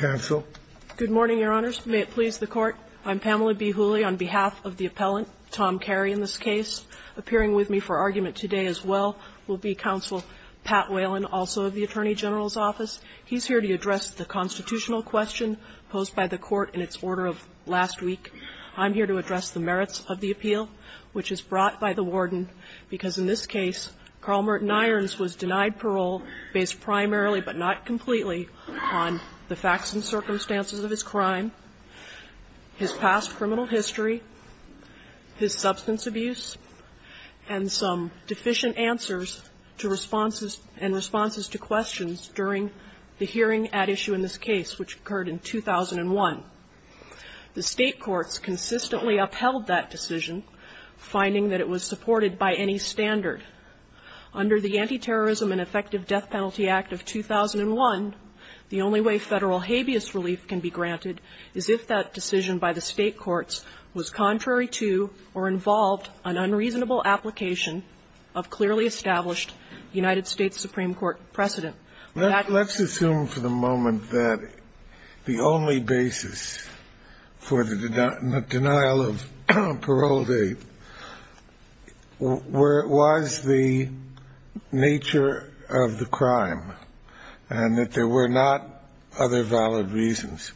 Good morning, Your Honors. May it please the Court, I'm Pamela B. Hooley on behalf of the appellant, Tom Carey, in this case. Appearing with me for argument today as well will be Counsel Pat Whalen, also of the Attorney General's Office. He's here to address the constitutional question posed by the Court in its order of last week. I'm here to address the merits of the appeal, which is brought by the Warden, because in this case, Carl Merton Irons was on the facts and circumstances of his crime, his past criminal history, his substance abuse, and some deficient answers and responses to questions during the hearing at issue in this case, which occurred in 2001. The state courts consistently upheld that decision, finding that it was supported by any standard. Under the Anti-Terrorism and Effective Death Penalty Act of 2001, the only way federal habeas relief can be granted is if that decision by the state courts was contrary to or involved an unreasonable application of clearly established United States Supreme Court precedent. Let's assume for the moment that the only basis for the denial of parole date was the nature of the crime and that there were not other valid reasons.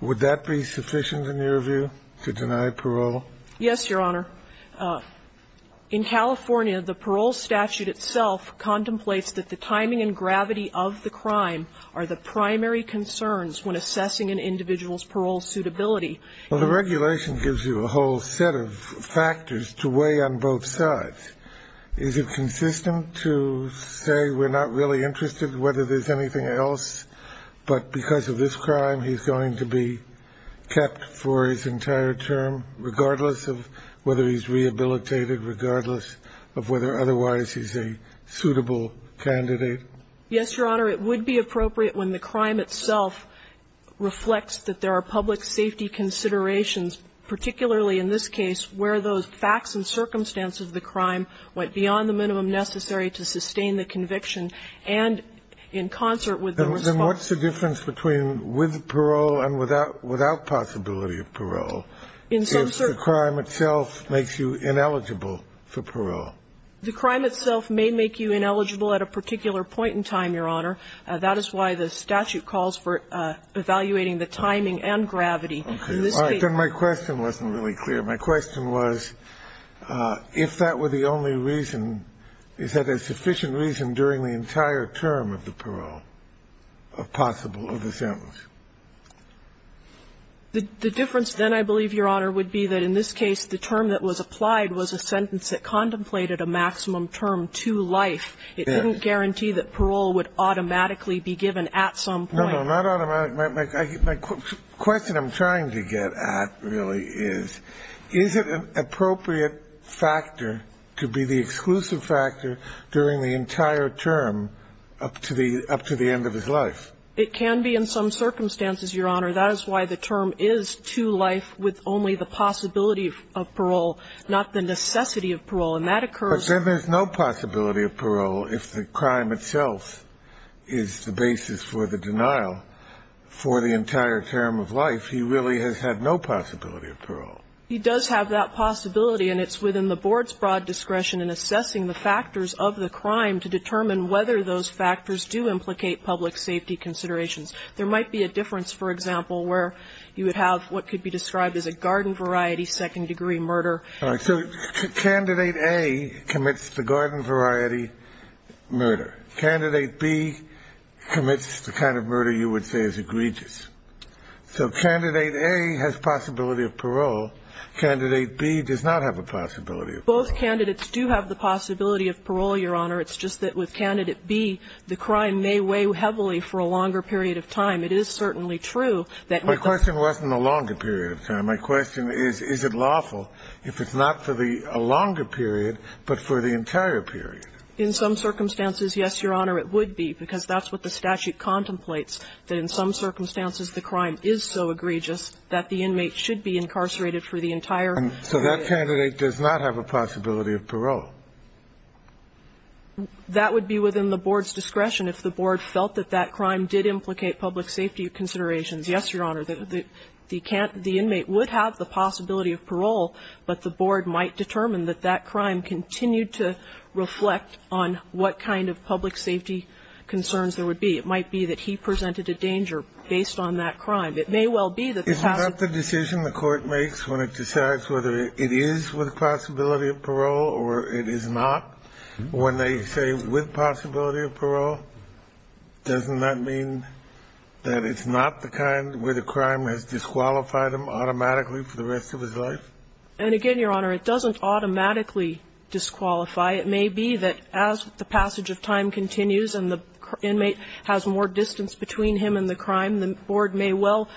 Would that be sufficient in your view, to deny parole? Yes, Your Honor. In California, the parole statute itself contemplates that the timing and gravity of the crime are the primary concerns when assessing an individual's parole suitability. Well, the regulation gives you a whole set of factors to weigh on both sides. Is it consistent to say we're not really interested whether there's anything else, but because of this crime, he's going to be kept for his entire term, regardless of whether he's rehabilitated, regardless of whether otherwise he's a suitable candidate? Yes, Your Honor. It would be appropriate when the crime itself reflects that there are public safety considerations, particularly in this case, where those facts and circumstances of the crime went beyond the minimum necessary to sustain the conviction and in concert with the response. Then what's the difference between with parole and without possibility of parole, if the crime itself makes you ineligible for parole? The crime itself may make you ineligible at a particular point in time, Your Honor. That is why the statute calls for evaluating the timing and gravity. Okay. All right. Then my question wasn't really clear. My question was, if that were the only reason, is that a sufficient reason during the entire term of the parole of possible of the sentence? The difference then, I believe, Your Honor, would be that in this case, the term that was applied was a sentence that contemplated a maximum term to life. It didn't guarantee that at any point. No, no, not automatic. My question I'm trying to get at really is, is it an appropriate factor to be the exclusive factor during the entire term up to the end of his life? It can be in some circumstances, Your Honor. That is why the term is to life with only the possibility of parole, not the necessity of parole. And that occurs... But then there's no possibility of parole if the crime itself is the basis for the denial for the entire term of life. He really has had no possibility of parole. He does have that possibility, and it's within the Board's broad discretion in assessing the factors of the crime to determine whether those factors do implicate public safety considerations. There might be a difference, for example, where you would have what could be described as a garden-variety second-degree murder. All right. So Candidate A commits the garden-variety murder. Candidate B commits the kind of murder you would say is egregious. So Candidate A has possibility of parole. Candidate B does not have a possibility of parole. Both candidates do have the possibility of parole, Your Honor. It's just that with Candidate B, the crime may weigh heavily for a longer period of time. It is certainly true that with the... My question wasn't a longer period of time. My question is, is it lawful if it's not for the longer period, but for the entire period? In some circumstances, yes, Your Honor, it would be, because that's what the statute contemplates, that in some circumstances the crime is so egregious that the inmate should be incarcerated for the entire period. So that candidate does not have a possibility of parole? That would be within the Board's discretion if the Board felt that that crime did implicate public safety considerations, yes, Your Honor. The inmate would have the possibility of parole, but the Board might determine that that crime continued to reflect on what kind of public safety concerns there would be. It might be that he presented a danger based on that crime. It may well be that... Isn't that the decision the Court makes when it decides whether it is with possibility of parole or it is not? When they say with possibility of parole, doesn't that mean that it's not the kind where the crime has disqualified him automatically for the rest of his life? And again, Your Honor, it doesn't automatically disqualify. It may be that as the passage of time continues and the inmate has more distance between him and the crime, the Board may well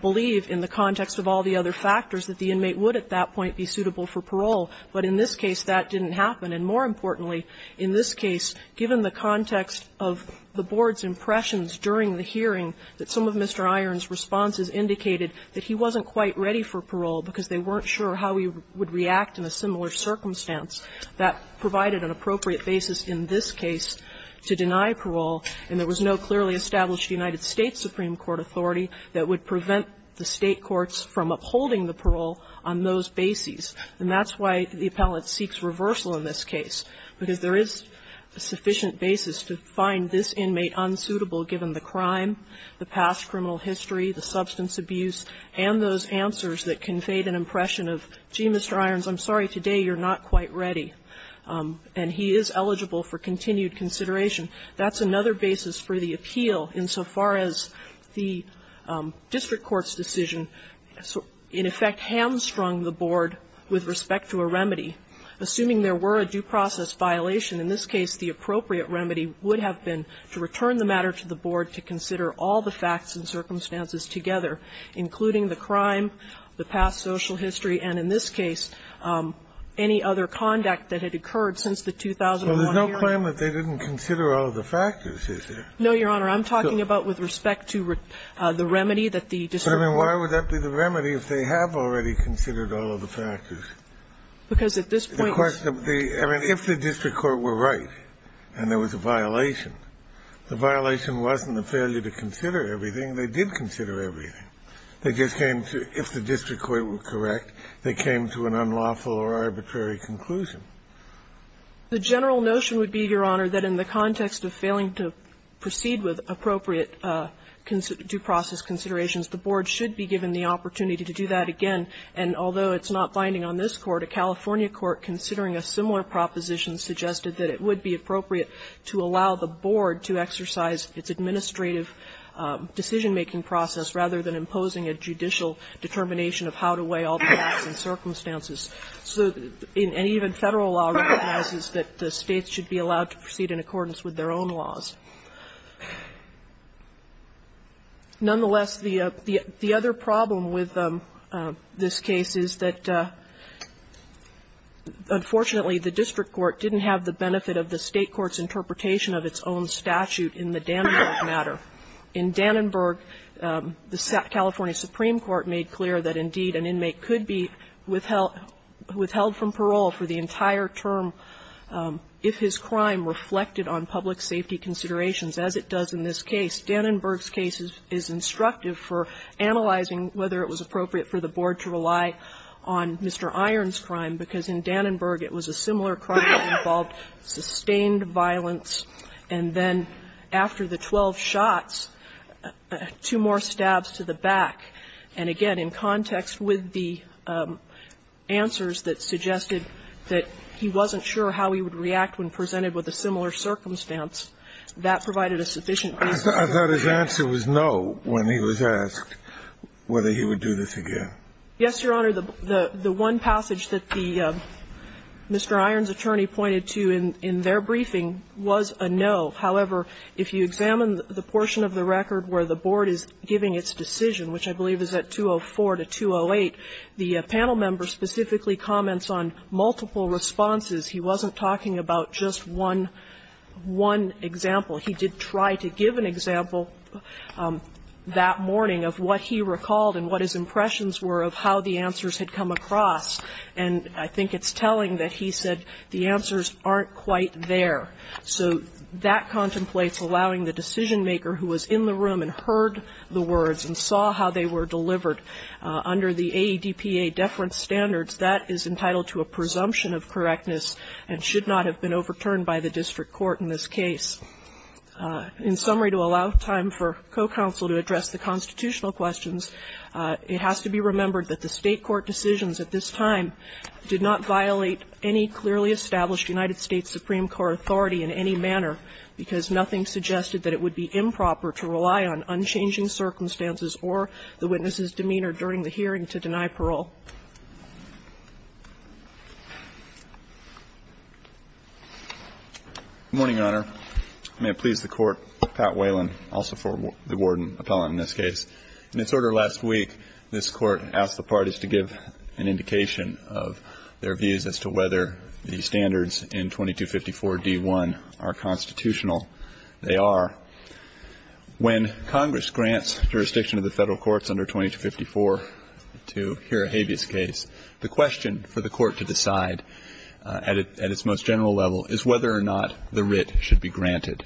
believe in the context of all the other factors that the inmate would at that point be suitable for parole. But in this case, that didn't happen. And more importantly, in this case, given the context of the Board's impressions during the hearing that some of Mr. Iron's responses indicated that he wasn't quite ready for parole because they weren't sure how he would react in a similar circumstance, that provided an appropriate basis in this case to deny parole. And there was no clearly established United States Supreme Court authority that would prevent the State courts from upholding the parole on those bases. And that's why the appellate seeks reversal in this case, because there is a sufficient basis to find this inmate unsuitable given the crime, the past criminal history, the substance abuse, and those answers that conveyed an impression of, gee, Mr. Irons, I'm sorry, today you're not quite ready. And he is eligible for continued consideration. That's another basis for the appeal insofar as the district court's decision, in effect, hamstrung the Board with respect to a remedy. Assuming there were a due process violation, in this case, the appropriate remedy would have been to return the matter to the Board to consider all the facts and circumstances together, including the crime, the past social history, and in this case, any other conduct that had occurred since the 2001 hearing. Kennedy. So there's no claim that they didn't consider all of the factors, is there? No, Your Honor. I'm talking about with respect to the remedy that the district court. But, I mean, why would that be the remedy if they have already considered all of the factors? Because at this point the question of the, I mean, if the district court were right and there was a violation, the violation wasn't the failure to consider everything. They did consider everything. They just came to, if the district court were correct, they came to an unlawful or arbitrary conclusion. The general notion would be, Your Honor, that in the context of failing to proceed with appropriate due process considerations, the Board should be given the opportunity to do that again. And although it's not binding on this Court, a California court considering a similar proposition suggested that it would be appropriate to allow the Board to exercise its administrative decision-making process rather than imposing a judicial determination of how to weigh all the facts and circumstances. So, and even Federal law recognizes that the States should be allowed to proceed in accordance with their own laws. Nonetheless, the other problem with this case is that, unfortunately, the State Court's interpretation of its own statute in the Dannenberg matter. In Dannenberg, the California Supreme Court made clear that, indeed, an inmate could be withheld from parole for the entire term if his crime reflected on public safety considerations, as it does in this case. Dannenberg's case is instructive for analyzing whether it was appropriate for the Board to rely on Mr. Iron's crime, because in Dannenberg it was appropriate for the Board to rely on Mr. Iron's crime. And in this case, Mr. Iron's crime was a similar crime that involved sustained violence, and then after the 12 shots, two more stabs to the back. And, again, in context with the answers that suggested that he wasn't sure how he would react when presented with a similar circumstance, that provided a sufficient basis for his reaction. Kennedy was no when he was asked whether he would do this again. Yes, Your Honor. The one passage that the Mr. Iron's attorney pointed to in their briefing was a no. However, if you examine the portion of the record where the Board is giving its decision, which I believe is at 204 to 208, the panel member specifically comments on multiple responses. He wasn't talking about just one example. He did try to give an example that morning of what he recalled and what his impressions were of how the answers had come across. And I think it's telling that he said the answers aren't quite there. So that contemplates allowing the decisionmaker who was in the room and heard the words and saw how they were delivered under the AEDPA deference standards. That is entitled to a presumption of correctness and should not have been overturned by the district court in this case. In summary, to allow time for co-counsel to address the constitutional questions, it has to be remembered that the State court decisions at this time did not violate any clearly established United States Supreme Court authority in any manner because nothing suggested that it would be improper to rely on unchanging circumstances or the witness's demeanor during the hearing to deny parole. Good morning, Your Honor. May it please the Court, Pat Whalen, also for the warden appellant in this case. In its order last week, this Court asked the parties to give an indication of their views as to whether the standards in 2254 D.1 are constitutional. They are. When Congress grants jurisdiction to the federal courts under 2254 to hear a hateful case, the question for the court to decide at its most general level is whether or not the writ should be granted.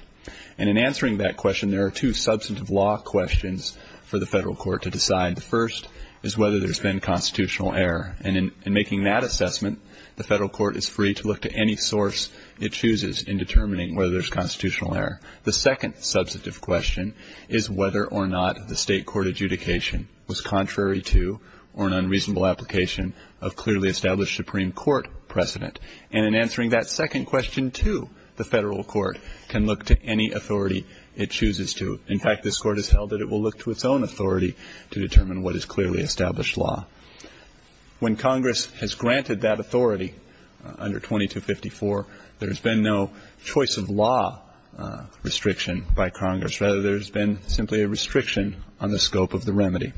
And in answering that question, there are two substantive law questions for the federal court to decide. The first is whether there's been constitutional error. And in making that assessment, the federal court is free to look to any source it chooses in determining whether there's constitutional error. The second substantive question is whether or not the State court adjudication was contrary to or an unreasonable application of clearly established Supreme Court precedent. And in answering that second question, too, the federal court can look to any authority it chooses to. In fact, this Court has held that it will look to its own authority to determine what is clearly established law. When Congress has granted that authority under 2254, there's been no choice of law restriction by Congress. Rather, there's been simply a restriction on the scope of the remedy.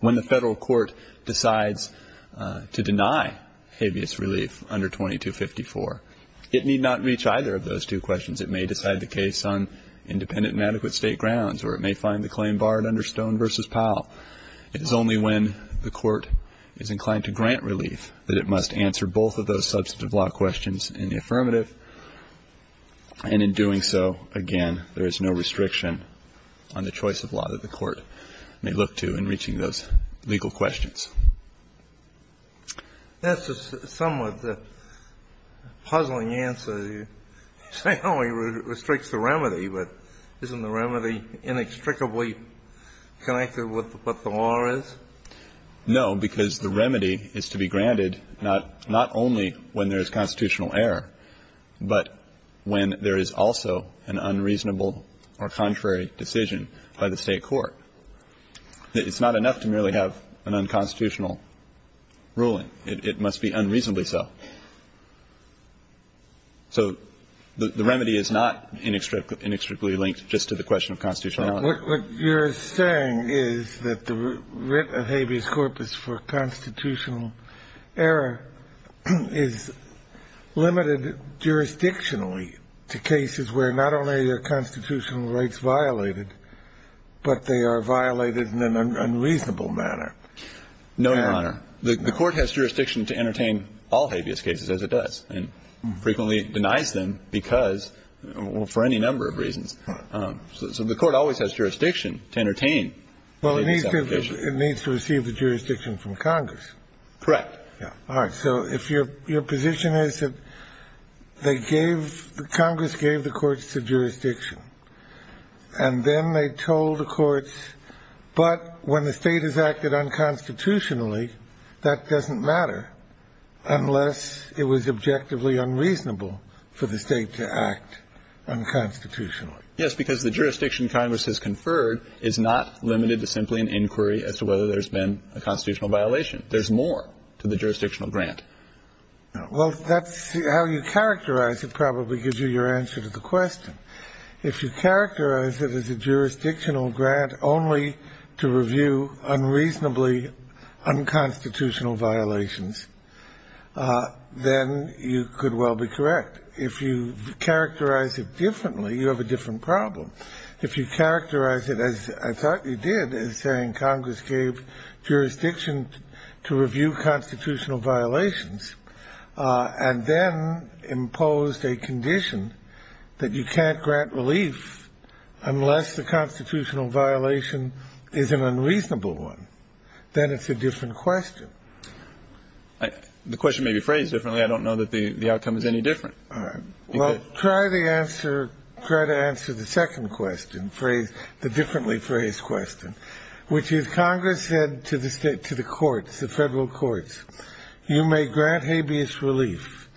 When the federal court decides to deny habeas relief under 2254, it need not reach either of those two questions. It may decide the case on independent and adequate State grounds, or it may find the claim barred under Stone v. Powell. It is only when the court is inclined to grant relief that it must answer both of those substantive law questions in the affirmative. And in doing so, again, there is no restriction on the choice of law that the court may look to in reaching those legal questions. That's a somewhat puzzling answer. You say, oh, he restricts the remedy, but isn't the remedy inextricably connected with what the law is? No, because the remedy is to be granted not only when there is constitutional error, but when there is also an unreasonable or contrary decision by the State court. It's not enough to merely have an unconstitutional ruling. It must be unreasonably so. So the remedy is not inextricably linked just to the question of constitutionality. But what you're saying is that the writ of habeas corpus for constitutional error is limited jurisdictionally to cases where not only are constitutional rights violated, but they are violated in an unreasonable manner. No, Your Honor. The court has jurisdiction to entertain all habeas cases as it does, and frequently denies them because, for any number of reasons. So the court always has jurisdiction to entertain. Well, it needs to receive the jurisdiction from Congress. Correct. So if your position is that Congress gave the courts the jurisdiction, and then they told the courts, but when the State has acted unconstitutionally, that doesn't matter unless it was objectively unreasonable for the State to act unconstitutionally. Yes, because the jurisdiction Congress has conferred is not limited to simply an inquiry as to whether there's been a constitutional violation. There's more to the jurisdictional grant. Well, that's how you characterize it probably gives you your answer to the question. If you characterize it as a jurisdictional grant only to review unreasonably unconstitutional violations, then you could well be correct. But if you characterize it differently, you have a different problem. If you characterize it as I thought you did, as saying Congress gave jurisdiction to review constitutional violations, and then imposed a condition that you can't grant relief unless the constitutional violation is an unreasonable one, then it's a different question. The question may be phrased differently. I don't know that the outcome is any different. Well, try to answer the second question, the differently phrased question, which is Congress said to the courts, the federal courts, you may grant habeas relief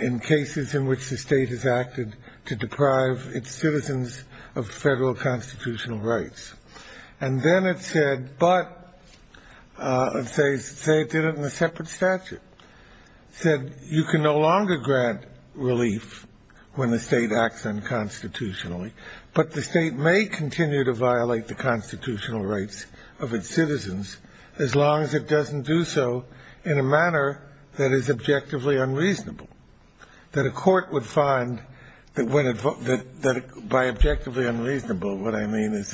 in cases in which the State has acted to deprive its citizens of federal constitutional rights. And then it said, but they did it in a separate statute. It said you can no longer grant relief when the State acts unconstitutionally, but the State may continue to violate the constitutional rights of its citizens as long as it doesn't do so in a manner that is objectively unreasonable, that a court would find that when it by objectively unreasonable, what I mean is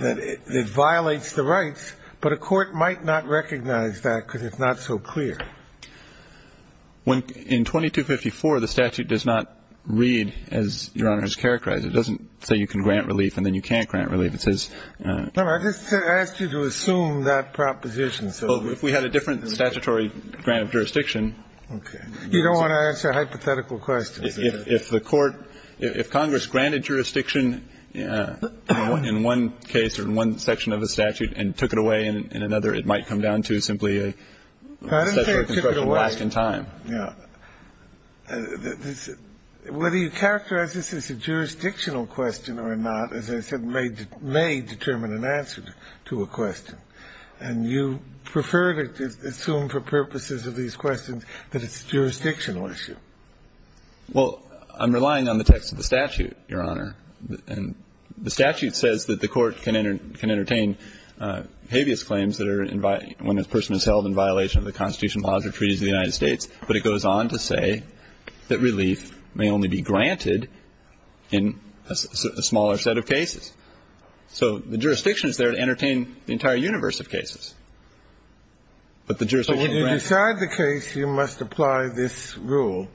that it violates the rights, but a court might not recognize that because it's not so clear. In 2254, the statute does not read as Your Honor has characterized it. It doesn't say you can grant relief and then you can't grant relief. It says... I just asked you to assume that proposition. If we had a different statutory grant of jurisdiction... Okay. You don't want to answer hypothetical questions. If the court, if Congress granted jurisdiction in one case or in one section of a statute and took it away in another, it might come down to simply a... I didn't say it took it away. Yeah. Whether you characterize this as a jurisdictional question or not, as I said, may determine an answer to a question. And you prefer to assume for purposes of these questions that it's a jurisdictional issue. Well, I'm relying on the text of the statute, Your Honor. And the statute says that the court can entertain habeas claims that are when a person is held in violation of the constitution positive treaties of the United States, but it goes on to say that relief may only be granted in a smaller set of cases. So the jurisdiction is there to entertain the entire universe of cases. But the jurisdiction... So when you decide the case, you must apply this rule,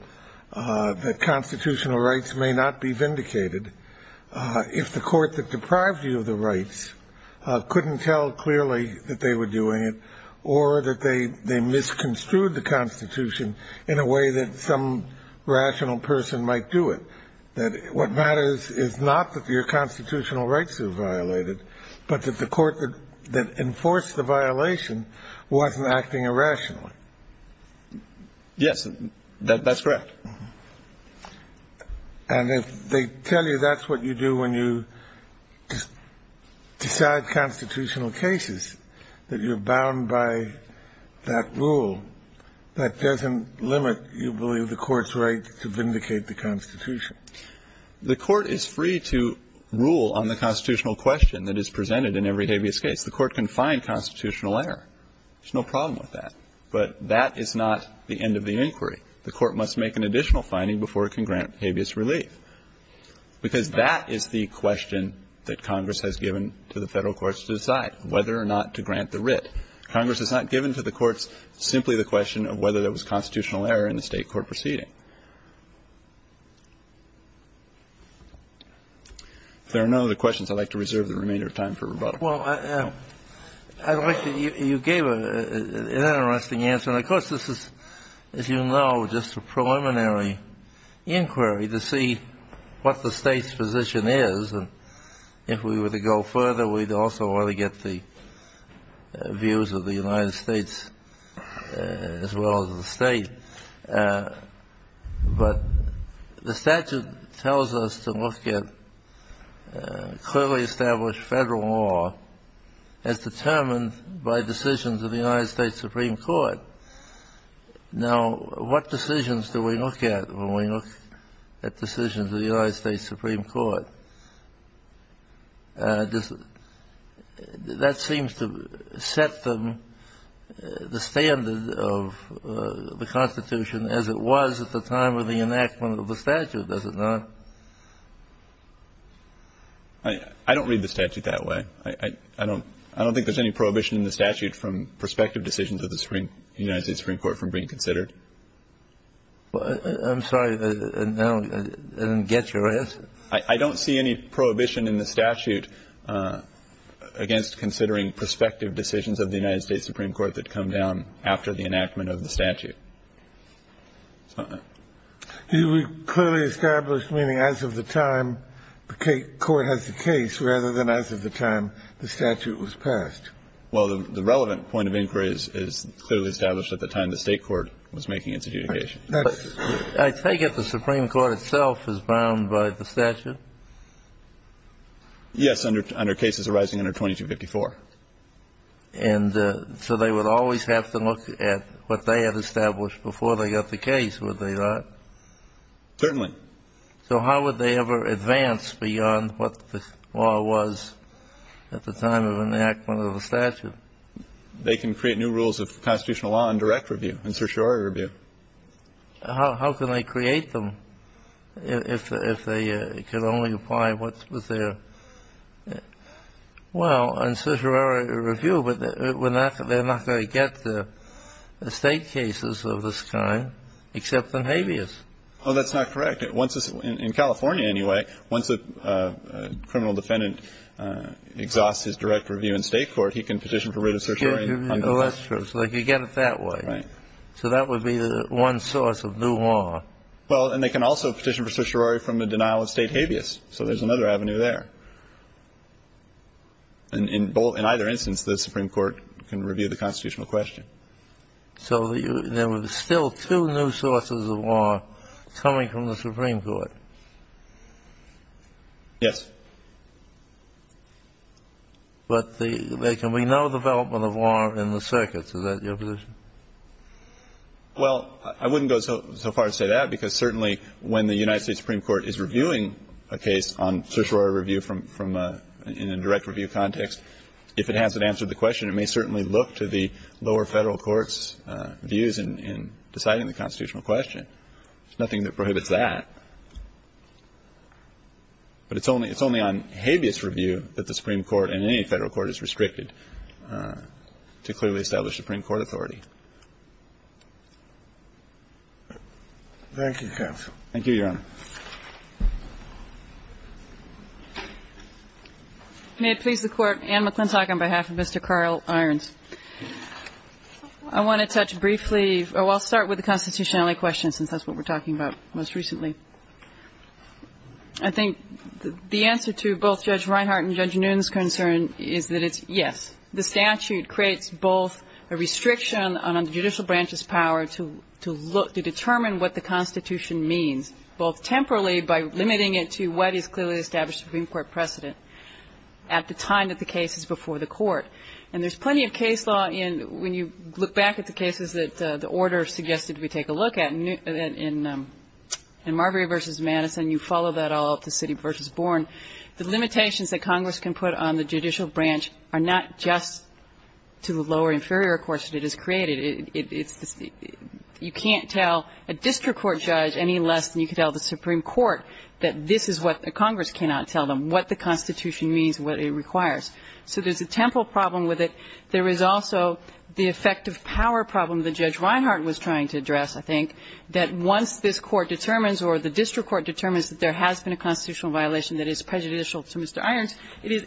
that constitutional rights may not be vindicated if the court that deprived you of the rights couldn't tell clearly that they were doing it or that they misconstrued the constitution in a way that some rational person might do it. That what matters is not that your constitutional rights are violated, but that the court that enforced the violation wasn't acting irrationally. Yes, that's correct. And if they tell you that's what you do when you decide constitutional cases, that you're bound by that rule, that doesn't limit, you believe, the court's right to vindicate the constitution? The court is free to rule on the constitutional question that is presented in every habeas case. The court can find constitutional error. There's no problem with that. But that is not the end of the inquiry. The court must make an additional finding before it can grant habeas relief. Because that is the question that Congress has given to the Federal courts to decide, whether or not to grant the writ. Congress has not given to the courts simply the question of whether there was constitutional error in the State court proceeding. If there are no other questions, I'd like to reserve the remainder of time for rebuttal. Well, I'd like to – you gave an interesting answer. And, of course, this is, as you know, just a preliminary inquiry to see what the State's position is. And if we were to go further, we'd also want to get the views of the United States as well as the State. But the statute tells us to look at clearly established Federal law as determined by decisions of the United States Supreme Court. Now, what decisions do we look at when we look at decisions of the United States Supreme Court? That seems to set the standard of the Constitution as it was at the time of the enactment of the statute, does it not? I don't read the statute that way. I don't think there's any prohibition in the statute from prospective decisions of the United States Supreme Court from being considered. I'm sorry, I didn't get your answer. I don't see any prohibition in the statute against considering prospective decisions of the United States Supreme Court that come down after the enactment of the statute. You would clearly establish meaning as of the time the court has the case rather than as of the time the statute was passed. Well, the relevant point of inquiry is clearly established at the time the State court was making its adjudication. I take it the Supreme Court itself is bound by the statute? Yes, under cases arising under 2254. And so they would always have to look at what they had established before they got the case, would they not? Certainly. So how would they ever advance beyond what the law was at the time of enactment of the statute? They can create new rules of constitutional law in direct review, in certiorari review. How can they create them if they can only apply what was there? Well, in certiorari review, they're not going to get the State cases of this kind except in habeas. Well, that's not correct. In California, anyway, once a criminal defendant exhausts his direct review in State court, he can petition for writ of certiorari. Oh, that's true. So they could get it that way. Right. So that would be the one source of new law. Well, and they can also petition for certiorari from the denial of State habeas. So there's another avenue there. In either instance, the Supreme Court can review the constitutional question. So there were still two new sources of law coming from the Supreme Court? Yes. But there can be no development of law in the circuits. Is that your position? Well, I wouldn't go so far as to say that, because certainly when the United States Supreme Court is reviewing a case on certiorari review from a ñ in a direct review context, if it hasn't answered the question, it may certainly look to the lower Federal Court's views in deciding the constitutional question. There's nothing that prohibits that. But it's only on habeas review that the Supreme Court and any Federal court is restricted to clearly establish Supreme Court authority. Thank you, counsel. Thank you, Your Honor. May it please the Court, Anne McClintock on behalf of Mr. Carl Irons. I want to touch briefly ñ oh, I'll start with the constitutionality question, since that's what we're talking about most recently. I think the answer to both Judge Reinhart and Judge Noonan's concern is that it's ñ yes, the statute creates both a restriction on the judicial branch's power to look ñ to determine what the constitution means, both temporally by limiting it to what is clearly established Supreme Court precedent at the time that the case is before the court. And there's plenty of case law in ñ when you look back at the cases that the order suggested we take a look at in Marbury v. Madison, you follow that all up to City v. Bourne, the limitations that Congress can put on the judicial branch are not just to the lower inferior courts that it has created. It's ñ you can't tell a district court judge any less than you can tell the Supreme Court that this is what the Congress cannot tell them, what the constitution means, what it requires. So there's a temporal problem with it. There is also the effective power problem that Judge Reinhart was trying to address, I think, that once this Court determines or the district court determines that there has been a constitutional violation that is prejudicial to Mr. Irons, it is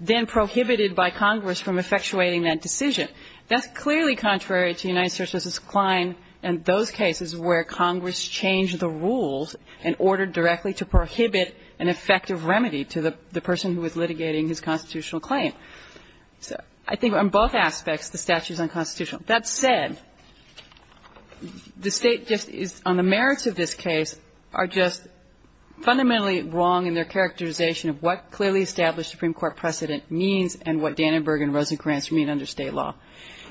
then prohibited by Congress from effectuating that decision. That's clearly contrary to United States v. Klein and those cases where Congress changed the rules and ordered directly to prohibit an effective remedy to the ñ the person who was litigating his constitutional claim. So I think on both aspects, the statute is unconstitutional. That said, the State just is ñ on the merits of this case are just fundamentally wrong in their characterization of what clearly established Supreme Court precedent means and what Dannenberg and Rosenkranz mean under State law.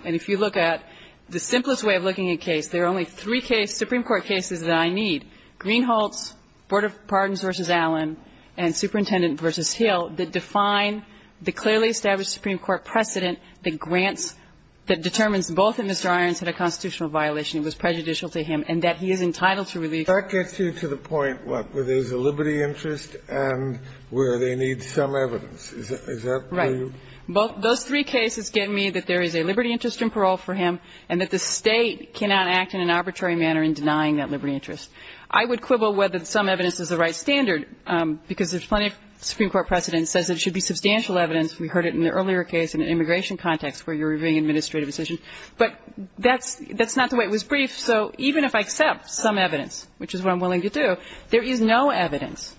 And if you look at the simplest way of looking at a case, there are only three Supreme Court cases that I need, Greenhalz, Board of Pardons v. Allen, and Superintendent v. Hill, that define the clearly established Supreme Court precedent that grants ñ that determines both that Mr. Irons had a constitutional violation that was prejudicial to him and that he is entitled to release. Kennedy. That gets you to the point, what, where there's a liberty interest and where they need some evidence. Is that true? Right. Those three cases give me that there is a liberty interest in parole for him and that the State cannot act in an arbitrary manner in denying that liberty interest. I would quibble whether some evidence is the right standard because there's plenty of Supreme Court precedent that says it should be substantial evidence. We heard it in the earlier case in an immigration context where you're reviewing administrative decisions. But that's ñ that's not the way. It was brief. So even if I accept some evidence, which is what I'm willing to do, there is no evidence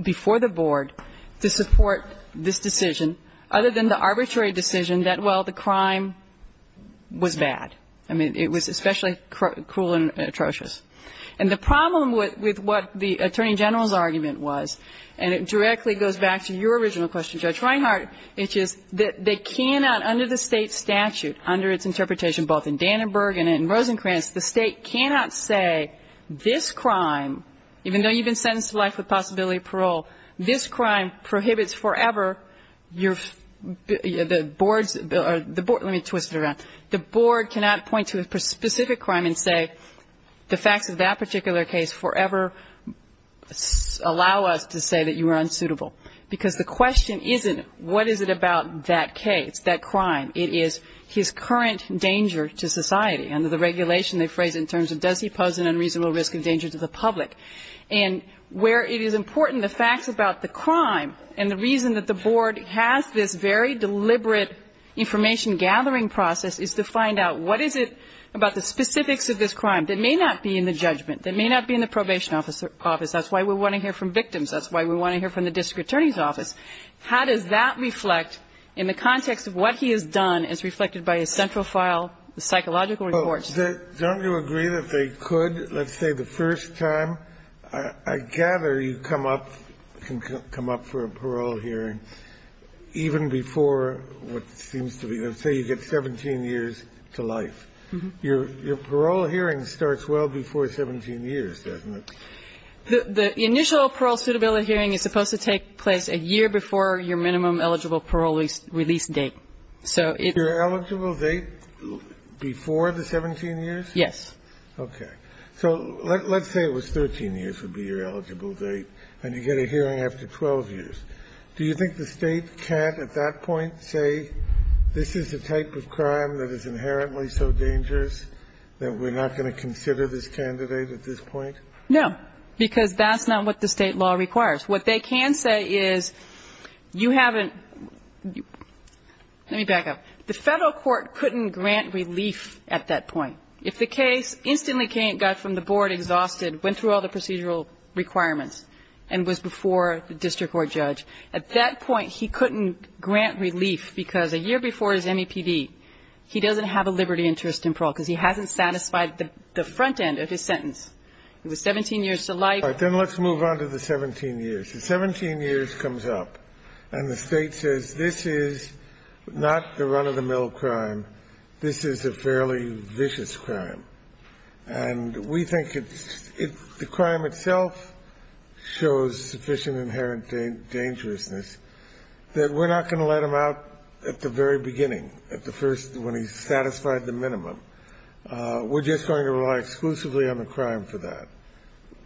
before the board to support this decision other than the arbitrary decision that, well, the crime was bad. I mean, it was especially cruel and atrocious. And the problem with what the Attorney General's argument was, and it directly goes back to your original question, Judge Reinhart, which is that they cannot under the State statute, under its interpretation both in Dannenberg and in Rosenkranz, the State cannot say this crime, even though you've been sentenced to life with possibility of parole, this crime prohibits forever your ñ the board's ñ or the board ñ let me twist it around. The board cannot point to a specific crime and say the facts of that particular case forever allow us to say that you are unsuitable. Because the question isn't what is it about that case, that crime. It is his current danger to society. Under the regulation, they phrase it in terms of does he pose an unreasonable risk of danger to the public. And where it is important the facts about the crime and the reason that the board has this very deliberate information-gathering process is to find out what is it about the specifics of this crime that may not be in the judgment, that may not be in the probation office. That's why we want to hear from victims. That's why we want to hear from the district attorney's office. How does that reflect in the context of what he has done as reflected by his central file, the psychological reports? Don't you agree that they could, let's say the first time? I gather you come up, can come up for a parole hearing even before what seems to be, let's say you get 17 years to life. Your parole hearing starts well before 17 years, doesn't it? The initial parole suitability hearing is supposed to take place a year before your minimum eligible parole release date. Your eligible date before the 17 years? Yes. Okay. So let's say it was 13 years would be your eligible date and you get a hearing after 12 years. Do you think the State can't at that point say this is a type of crime that is inherently so dangerous that we're not going to consider this candidate at this point? No, because that's not what the State law requires. What they can say is you haven't, let me back up. The Federal court couldn't grant relief at that point. If the case instantly got from the board exhausted, went through all the procedural requirements and was before the district court judge, at that point he couldn't grant relief because a year before his MEPD, he doesn't have a liberty interest in parole because he hasn't satisfied the front end of his sentence. It was 17 years to life. Then let's move on to the 17 years. The 17 years comes up and the State says this is not the run of the mill crime. This is a fairly vicious crime. And we think it's, the crime itself shows sufficient inherent dangerousness that we're not going to let him out at the very beginning, at the first, when he's satisfied the minimum. We're just going to rely exclusively on the crime for that.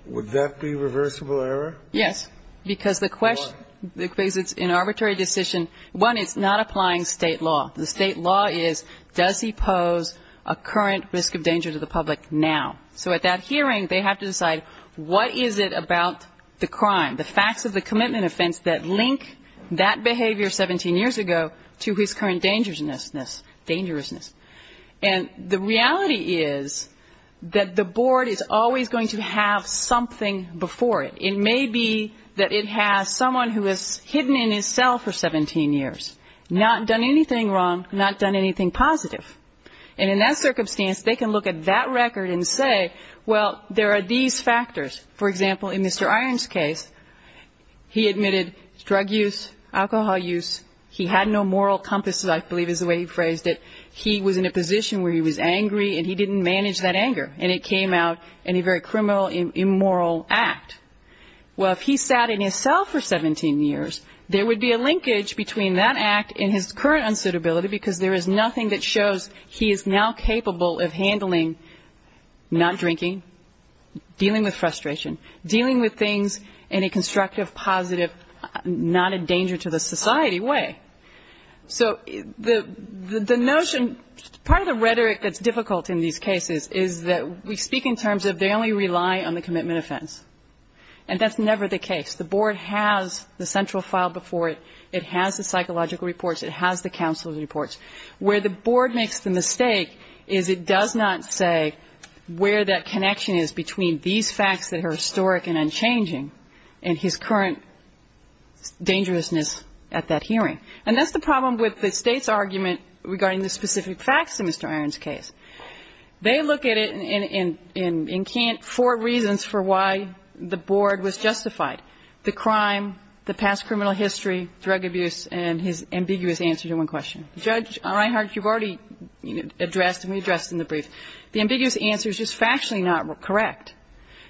Would that be reversible error? Yes. Because the question, because it's an arbitrary decision. One, it's not applying State law. The State law is does he pose a current risk of danger to the public now? So at that hearing, they have to decide what is it about the crime, the facts of the commitment offense that link that behavior 17 years ago to his current dangerousness, dangerousness. And the reality is that the board is always going to have something before it. It may be that it has someone who has hidden in his cell for 17 years, not done anything wrong, not done anything positive. And in that circumstance, they can look at that record and say, well, there are these factors. For example, in Mr. Iron's case, he admitted drug use, alcohol use. He had no moral compass, I believe is the way he phrased it. He was in a position where he was angry and he didn't manage that anger. And it came out in a very criminal, immoral act. Well, if he sat in his cell for 17 years, there would be a linkage between that unsuitability because there is nothing that shows he is now capable of handling not drinking, dealing with frustration, dealing with things in a constructive, positive, not a danger to the society way. So the notion, part of the rhetoric that's difficult in these cases is that we speak in terms of they only rely on the commitment offense. And that's never the case. The board has the central file before it. It has the psychological reports. It has the counsel's reports. Where the board makes the mistake is it does not say where that connection is between these facts that are historic and unchanging and his current dangerousness at that hearing. And that's the problem with the State's argument regarding the specific facts in Mr. Iron's case. They look at it in four reasons for why the board was justified. The crime, the past criminal history, drug abuse, and his ambiguous answer to one question. Judge Reinhart, you've already addressed and redressed in the brief. The ambiguous answer is just factually not correct.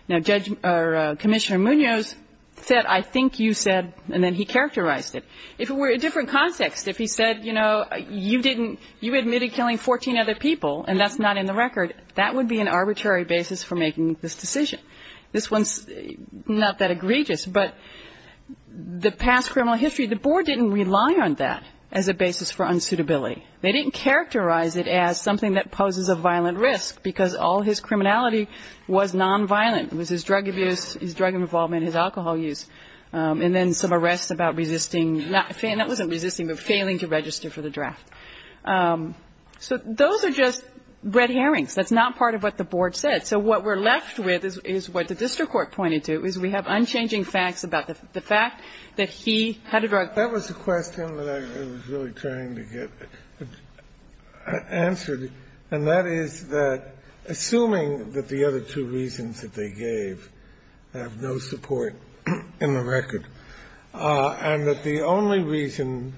Now, Judge or Commissioner Munoz said, I think you said, and then he characterized it. If it were a different context, if he said, you know, you admitted killing 14 other people and that's not in the record, that would be an arbitrary basis for making this decision. This one is not that egregious, but the past criminal history, the board didn't rely on that as a basis for unsuitability. They didn't characterize it as something that poses a violent risk because all his criminality was nonviolent. It was his drug abuse, his drug involvement, his alcohol use, and then some arrests about resisting, not resisting, but failing to register for the draft. So those are just red herrings. That's not part of what the board said. So what we're left with is what the district court pointed to, is we have unchanging facts about the fact that he had a drug. That was a question that I was really trying to get answered. And that is that, assuming that the other two reasons that they gave have no support in the record, and that the only reason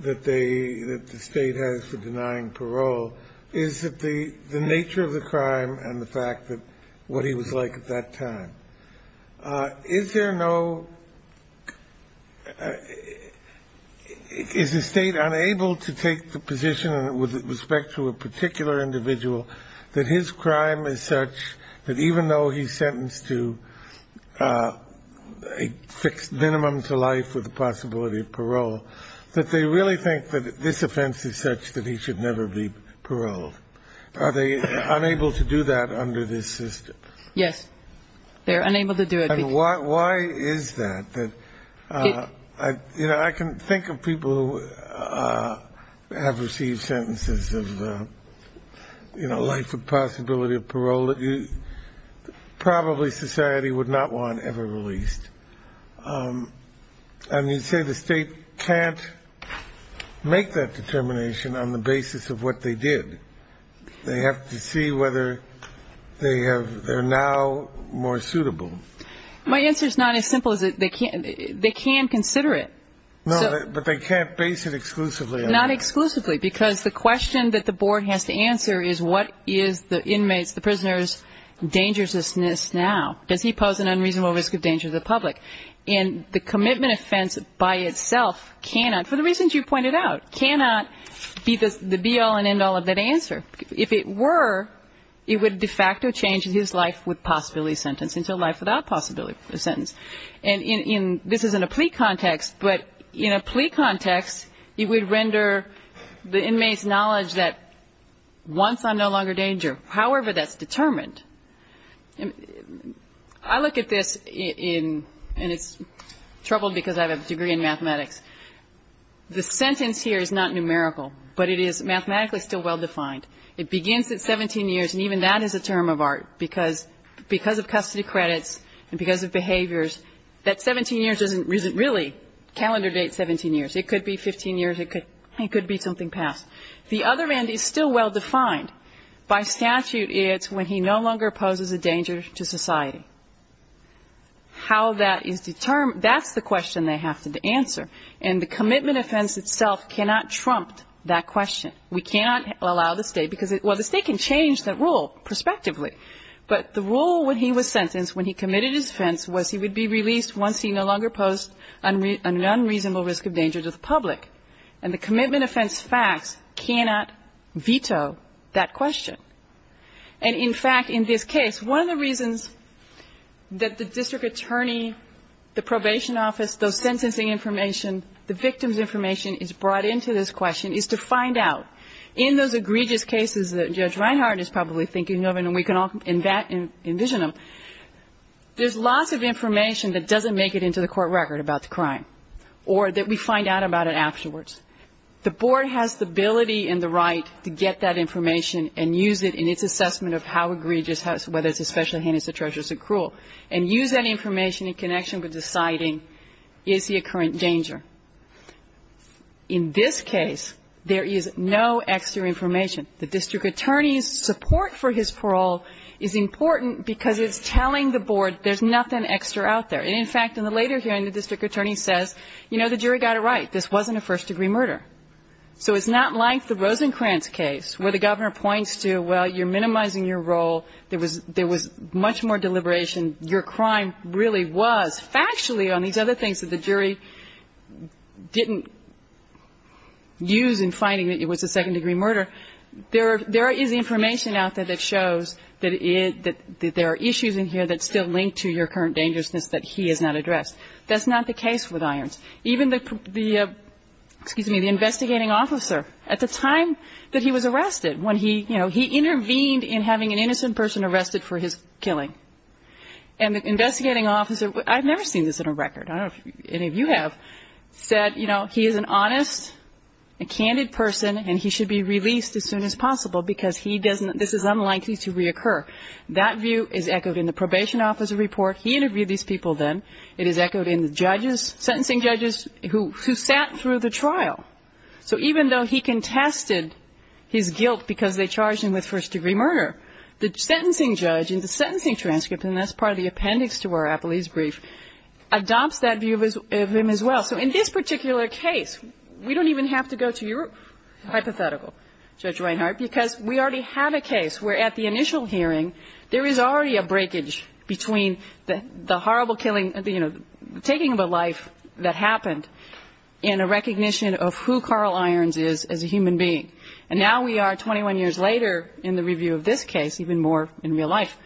that they, that the State has for denying what he was like at that time, is there no, is the State unable to take the position with respect to a particular individual that his crime is such that even though he's sentenced to a fixed minimum to life with the possibility of parole, that they really think that this offense is such that he should never be paroled? Are they unable to do that under this system? Yes. They're unable to do it. And why is that? You know, I can think of people who have received sentences of, you know, life with possibility of parole that probably society would not want ever released. And you'd say the State can't make that determination on the basis of what they did. They have to see whether they have, they're now more suitable. My answer is not as simple as it, they can't, they can consider it. No, but they can't base it exclusively on that. Not exclusively, because the question that the board has to answer is what is the inmates, the prisoners' dangerousness now? Does he pose an unreasonable risk of danger to the public? And the commitment offense by itself cannot, for the reasons you pointed out, cannot be the be-all and end-all of that answer. If it were, it would de facto change his life with possibility of sentence into a life without possibility of sentence. And this is in a plea context, but in a plea context, it would render the inmates' knowledge that once I'm no longer in danger, however that's determined, I look at this in, and it's troubled because I have a degree in mathematics. The sentence here is not numerical, but it is mathematically still well-defined. It begins at 17 years, and even that is a term of art, because of custody credits and because of behaviors, that 17 years isn't really calendar date 17 years. It could be 15 years, it could be something past. The other end is still well-defined. By statute, it's when he no longer poses a danger to society. How that is determined, that's the question they have to answer. And the commitment offense itself cannot trump that question. We cannot allow the State, because the State can change that rule prospectively, but the rule when he was sentenced, when he committed his offense, was he would be released once he no longer posed an unreasonable risk of danger to the public. And the commitment offense facts cannot veto that question. And in fact, in this case, one of the reasons that the district attorney, the probation office, those sentencing information, the victim's information is brought into this question is to find out, in those egregious cases that Judge Reinhart is probably thinking of, and we can all envision them, there's lots of information that doesn't make it into the court record about the crime, or that we find out about it afterwards. The board has the ability and the right to get that information and use it in its assessment of how egregious, whether it's especially heinous, atrocious, or cruel, and use that information in connection with deciding, is he a current danger? In this case, there is no extra information. The district attorney's support for his parole is important because it's telling the board there's nothing extra out there. And in fact, in the later hearing, the district attorney says, you know, the jury got it right. This wasn't a first-degree murder. So it's not like the Rosencrantz case, where the governor points to, well, you're minimizing your role. There was much more deliberation. Your crime really was, factually, on these other things that the jury didn't use in finding that it was a second-degree murder. There is information out there that shows that there are issues in here that's still linked to your current dangerousness that he has not addressed. That's not the case with Irons. Even the, excuse me, the investigating officer, at the time that he was arrested, when he, you know, he intervened in having an innocent person arrested for his killing. And the investigating officer, I've never seen this in a record. I don't know if any of you have, said, you know, he is an honest, a candid person, and he should be released as soon as possible because he doesn't, this is unlikely to reoccur. That view is echoed in the probation officer report. He interviewed these people then. It is echoed in the judges, sentencing judges, who sat through the trial. So even though he contested his guilt because they charged him with first-degree murder, the sentencing judge in the sentencing transcript, and that's part of the appendix to our appellee's brief, adopts that view of him as well. So in this particular case, we don't even have to go to your hypothetical. Judge Reinhart, because we already have a case where, at the initial hearing, there is already a breakage between the horrible killing, you know, taking of a life that happened in a recognition of who Carl Irons is as a human being. And now we are, 21 years later, in the review of this case, even more in real life,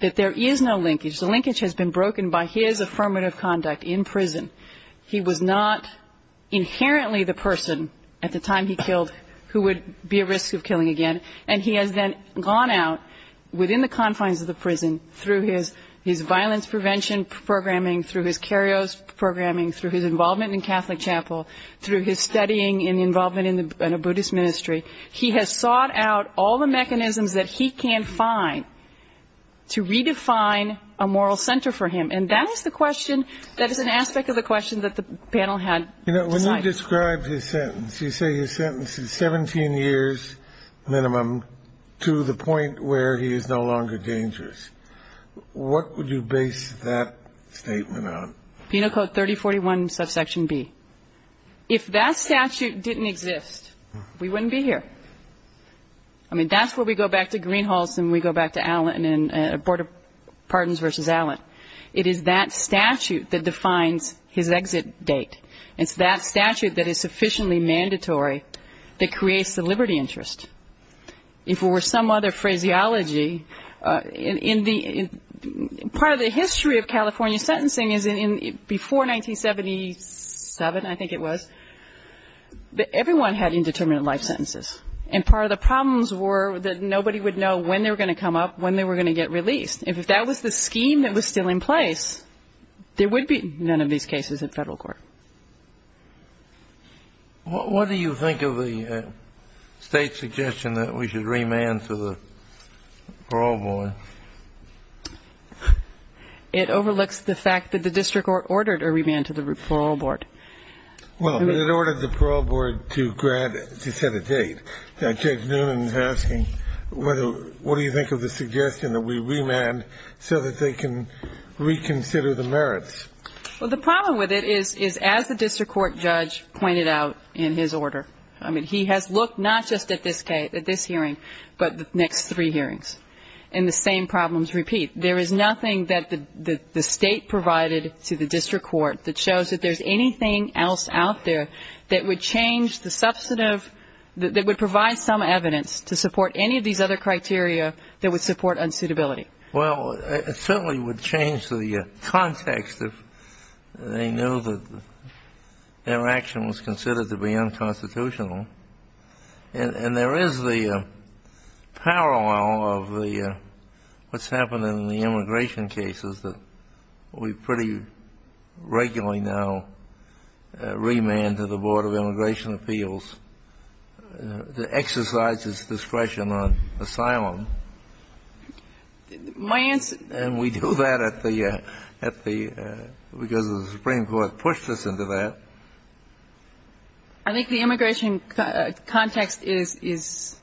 that there is no linkage. The linkage has been broken by his affirmative conduct in prison. He was not inherently the person, at the time he killed, who would be at risk of killing again. And he has then gone out, within the confines of the prison, through his violence prevention programming, through his karyos programming, through his involvement in Catholic chapel, through his studying and involvement in a Buddhist ministry. He has sought out all the mechanisms that he can find to redefine a moral center for him. And that is the question, that is an aspect of the question that the panel had decided. You know, when you describe his sentence, you say his sentence is 17 years minimum, to the point where he is no longer dangerous. What would you base that statement on? Penal Code 3041, subsection B. If that statute didn't exist, we wouldn't be here. I mean, that's where we go back to Greenhalghs and we go back to Allen, and Board of Pardons v. Allen. It is that statute that defines his exit date. It's that statute that is sufficiently mandatory that creates the liberty interest. If it were some other phraseology, in the part of the history of California sentencing, before 1977, I think it was, everyone had indeterminate life sentences. And part of the problems were that nobody would know when they were going to come up, when they were going to get released. If that was the scheme that was still in place, there would be none of these cases in federal court. What do you think of the state's suggestion that we should remand to the parole board? It overlooks the fact that the district ordered a remand to the parole board. Well, it ordered the parole board to set a date. Judge Noonan is asking, what do you think of the suggestion that we remand so that they can reconsider the merits? Well, the problem with it is, as the district court judge pointed out in his order, I mean, he has looked not just at this hearing, but the next three hearings. And the same problems repeat. There is nothing that the state provided to the district court that shows that there's anything else out there that would change the substantive, that would provide some evidence to support any of these other criteria that would support unsuitability. Well, it certainly would change the context if they knew that their action was considered to be unconstitutional. And there is the parallel of what's happened in the immigration cases that we pretty regularly now remand to the board of judges. Well, I think the immigration context is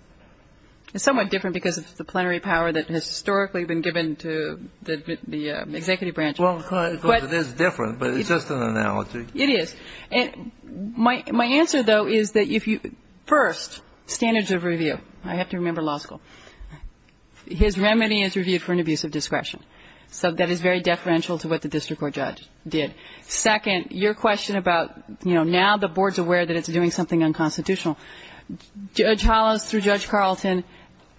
somewhat different because of the plenary power that has historically been given to the executive branch. Well, of course, it is different, but it's just an analogy. It is. I think it's a very good question. My answer, though, is that, first, standards of review. I have to remember law school. His remedy is review for an abuse of discretion. So that is very deferential to what the district court judge did. Second, your question about, you know, now the board's aware that it's doing something unconstitutional. Judge Hollis through Judge Carlton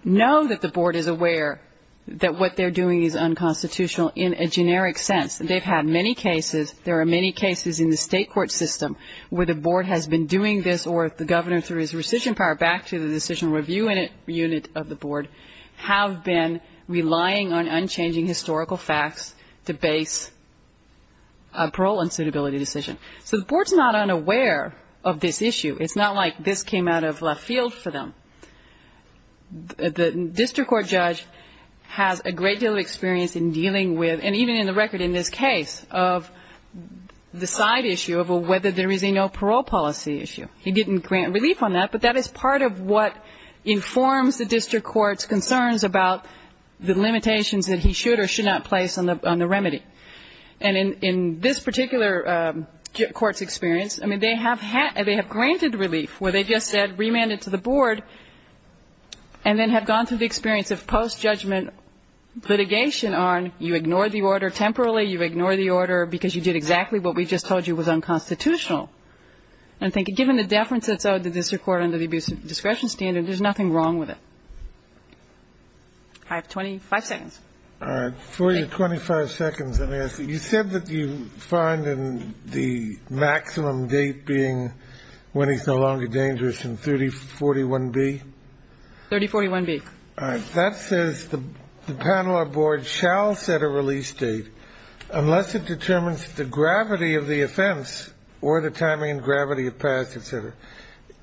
know that the board is aware that what they're doing is unconstitutional in a generic sense. They've had many cases. There are many cases in the state court system where the board has been doing this or the governor, through his rescission power, back to the decisional review unit of the board, have been relying on unchanging historical facts to base a parole unsuitability decision. So the board's not unaware of this issue. It's not like this came out of left field for them. The district court judge has a great deal of experience in dealing with, and even in the record in this case, of, you know, the side issue of whether there is a no parole policy issue. He didn't grant relief on that, but that is part of what informs the district court's concerns about the limitations that he should or should not place on the remedy. And in this particular court's experience, I mean, they have granted relief where they just said remand it to the board and then have gone through the experience of post-judgment litigation on, you ignore the order temporarily, you ignore the order because you did exactly what we just told you was unconstitutional. And I think given the deference that's owed to the district court under the abuse of discretion standard, there's nothing wrong with it. I have 25 seconds. All right. For your 25 seconds, let me ask you, you said that you find in the maximum date being when he's no longer dangerous in 3041B? 3041B. All right. That says the panel or board shall set a release date unless it determines the gravity of the offense or the timing and gravity of past, et cetera,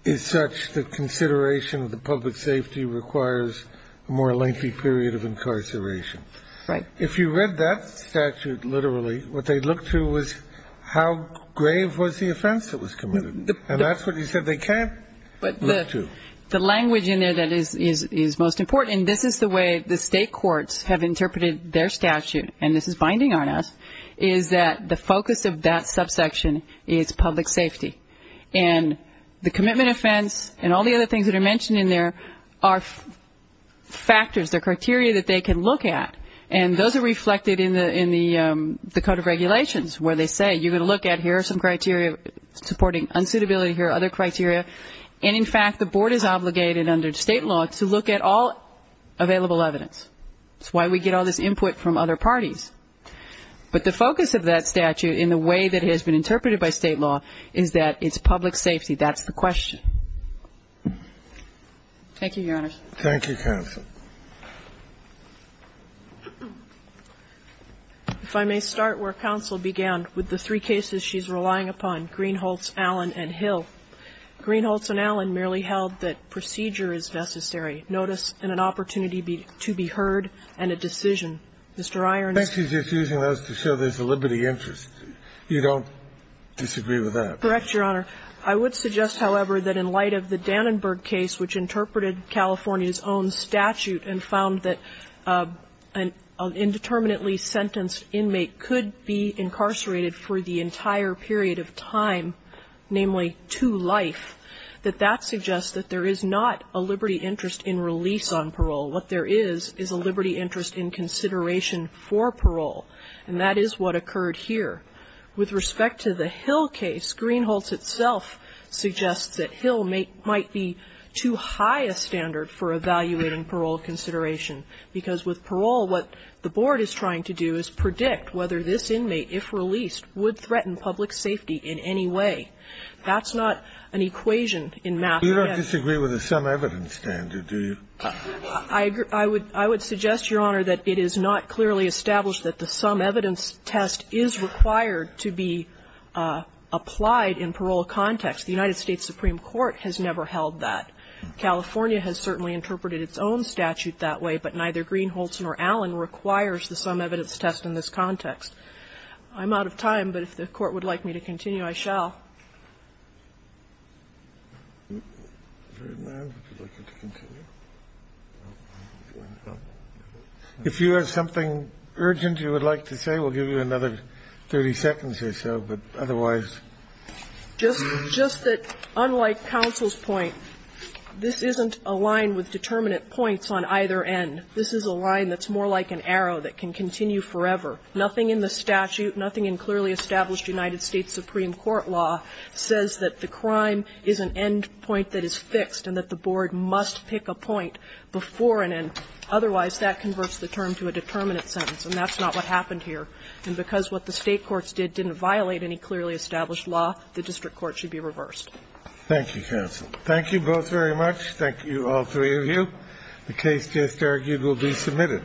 is such that consideration of the public safety requires a more lengthy period of incarceration. Right. If you read that statute literally, what they looked through was how grave was the offense that was committed. And that's what you said they can't look to. The language in there that is most important, and this is the way the state courts have interpreted their statute, and this is binding on us, is that the focus of that subsection is public safety. And the commitment offense and all the other things that are mentioned in there are factors, they're criteria that they can look at. And those are reflected in the code of regulations where they say you're going to look at here are some criteria supporting unsuitability, here are other criteria, and in fact, the board is obligated under state law to look at all available evidence. That's why we get all this input from other parties. But the focus of that statute in the way that it has been interpreted by state law is that it's public safety. That's the question. Thank you, Your Honors. Thank you, counsel. If I may start where counsel began with the three cases she's relying upon, Greenholz, Allen, and Hill. Greenholz and Allen merely held that procedure is necessary, notice, and an opportunity to be heard, and a decision. Mr. Irons. I think she's just using those to show there's a liberty interest. You don't disagree with that? Correct, Your Honor. I would suggest, however, that in light of the Dannenberg case, which interpreted California's own statute and found that an indeterminately sentenced inmate could be incarcerated for the entire period of time, namely two life, that that suggests that there is not a liberty interest in release on parole. What there is is a liberty interest in consideration for parole, and that is what occurred here. With respect to the Hill case, Greenholz itself suggests that Hill might be too high a standard for evaluating parole consideration, because with parole, what the board is trying to do is predict whether an indeterminately sentenced inmate, if released, would threaten public safety in any way. That's not an equation in math yet. You don't disagree with the sum evidence standard, do you? I would suggest, Your Honor, that it is not clearly established that the sum evidence test is required to be applied in parole context. The United States Supreme Court has never held that. California has certainly interpreted its own statute that way, but neither Greenholz nor Allen requires the sum evidence test in this context. I'm out of time, but if the Court would like me to continue, I shall. If you have something urgent you would like to say, we'll give you another 30 seconds or so, but otherwise. Just that, unlike counsel's point, this isn't a line with determinate points on either end. This is a line that's more like an arrow that can continue forever. Nothing in the statute, nothing in clearly established United States Supreme Court law says that the crime is an end point that is fixed and that the board must pick a point before an end, otherwise that converts the term to a determinate sentence. And that's not what happened here. And because what the State courts did didn't violate any clearly established law, the district court should be reversed. Thank you, counsel. Thank you both very much. Thank you, all three of you. The case just argued will be submitted.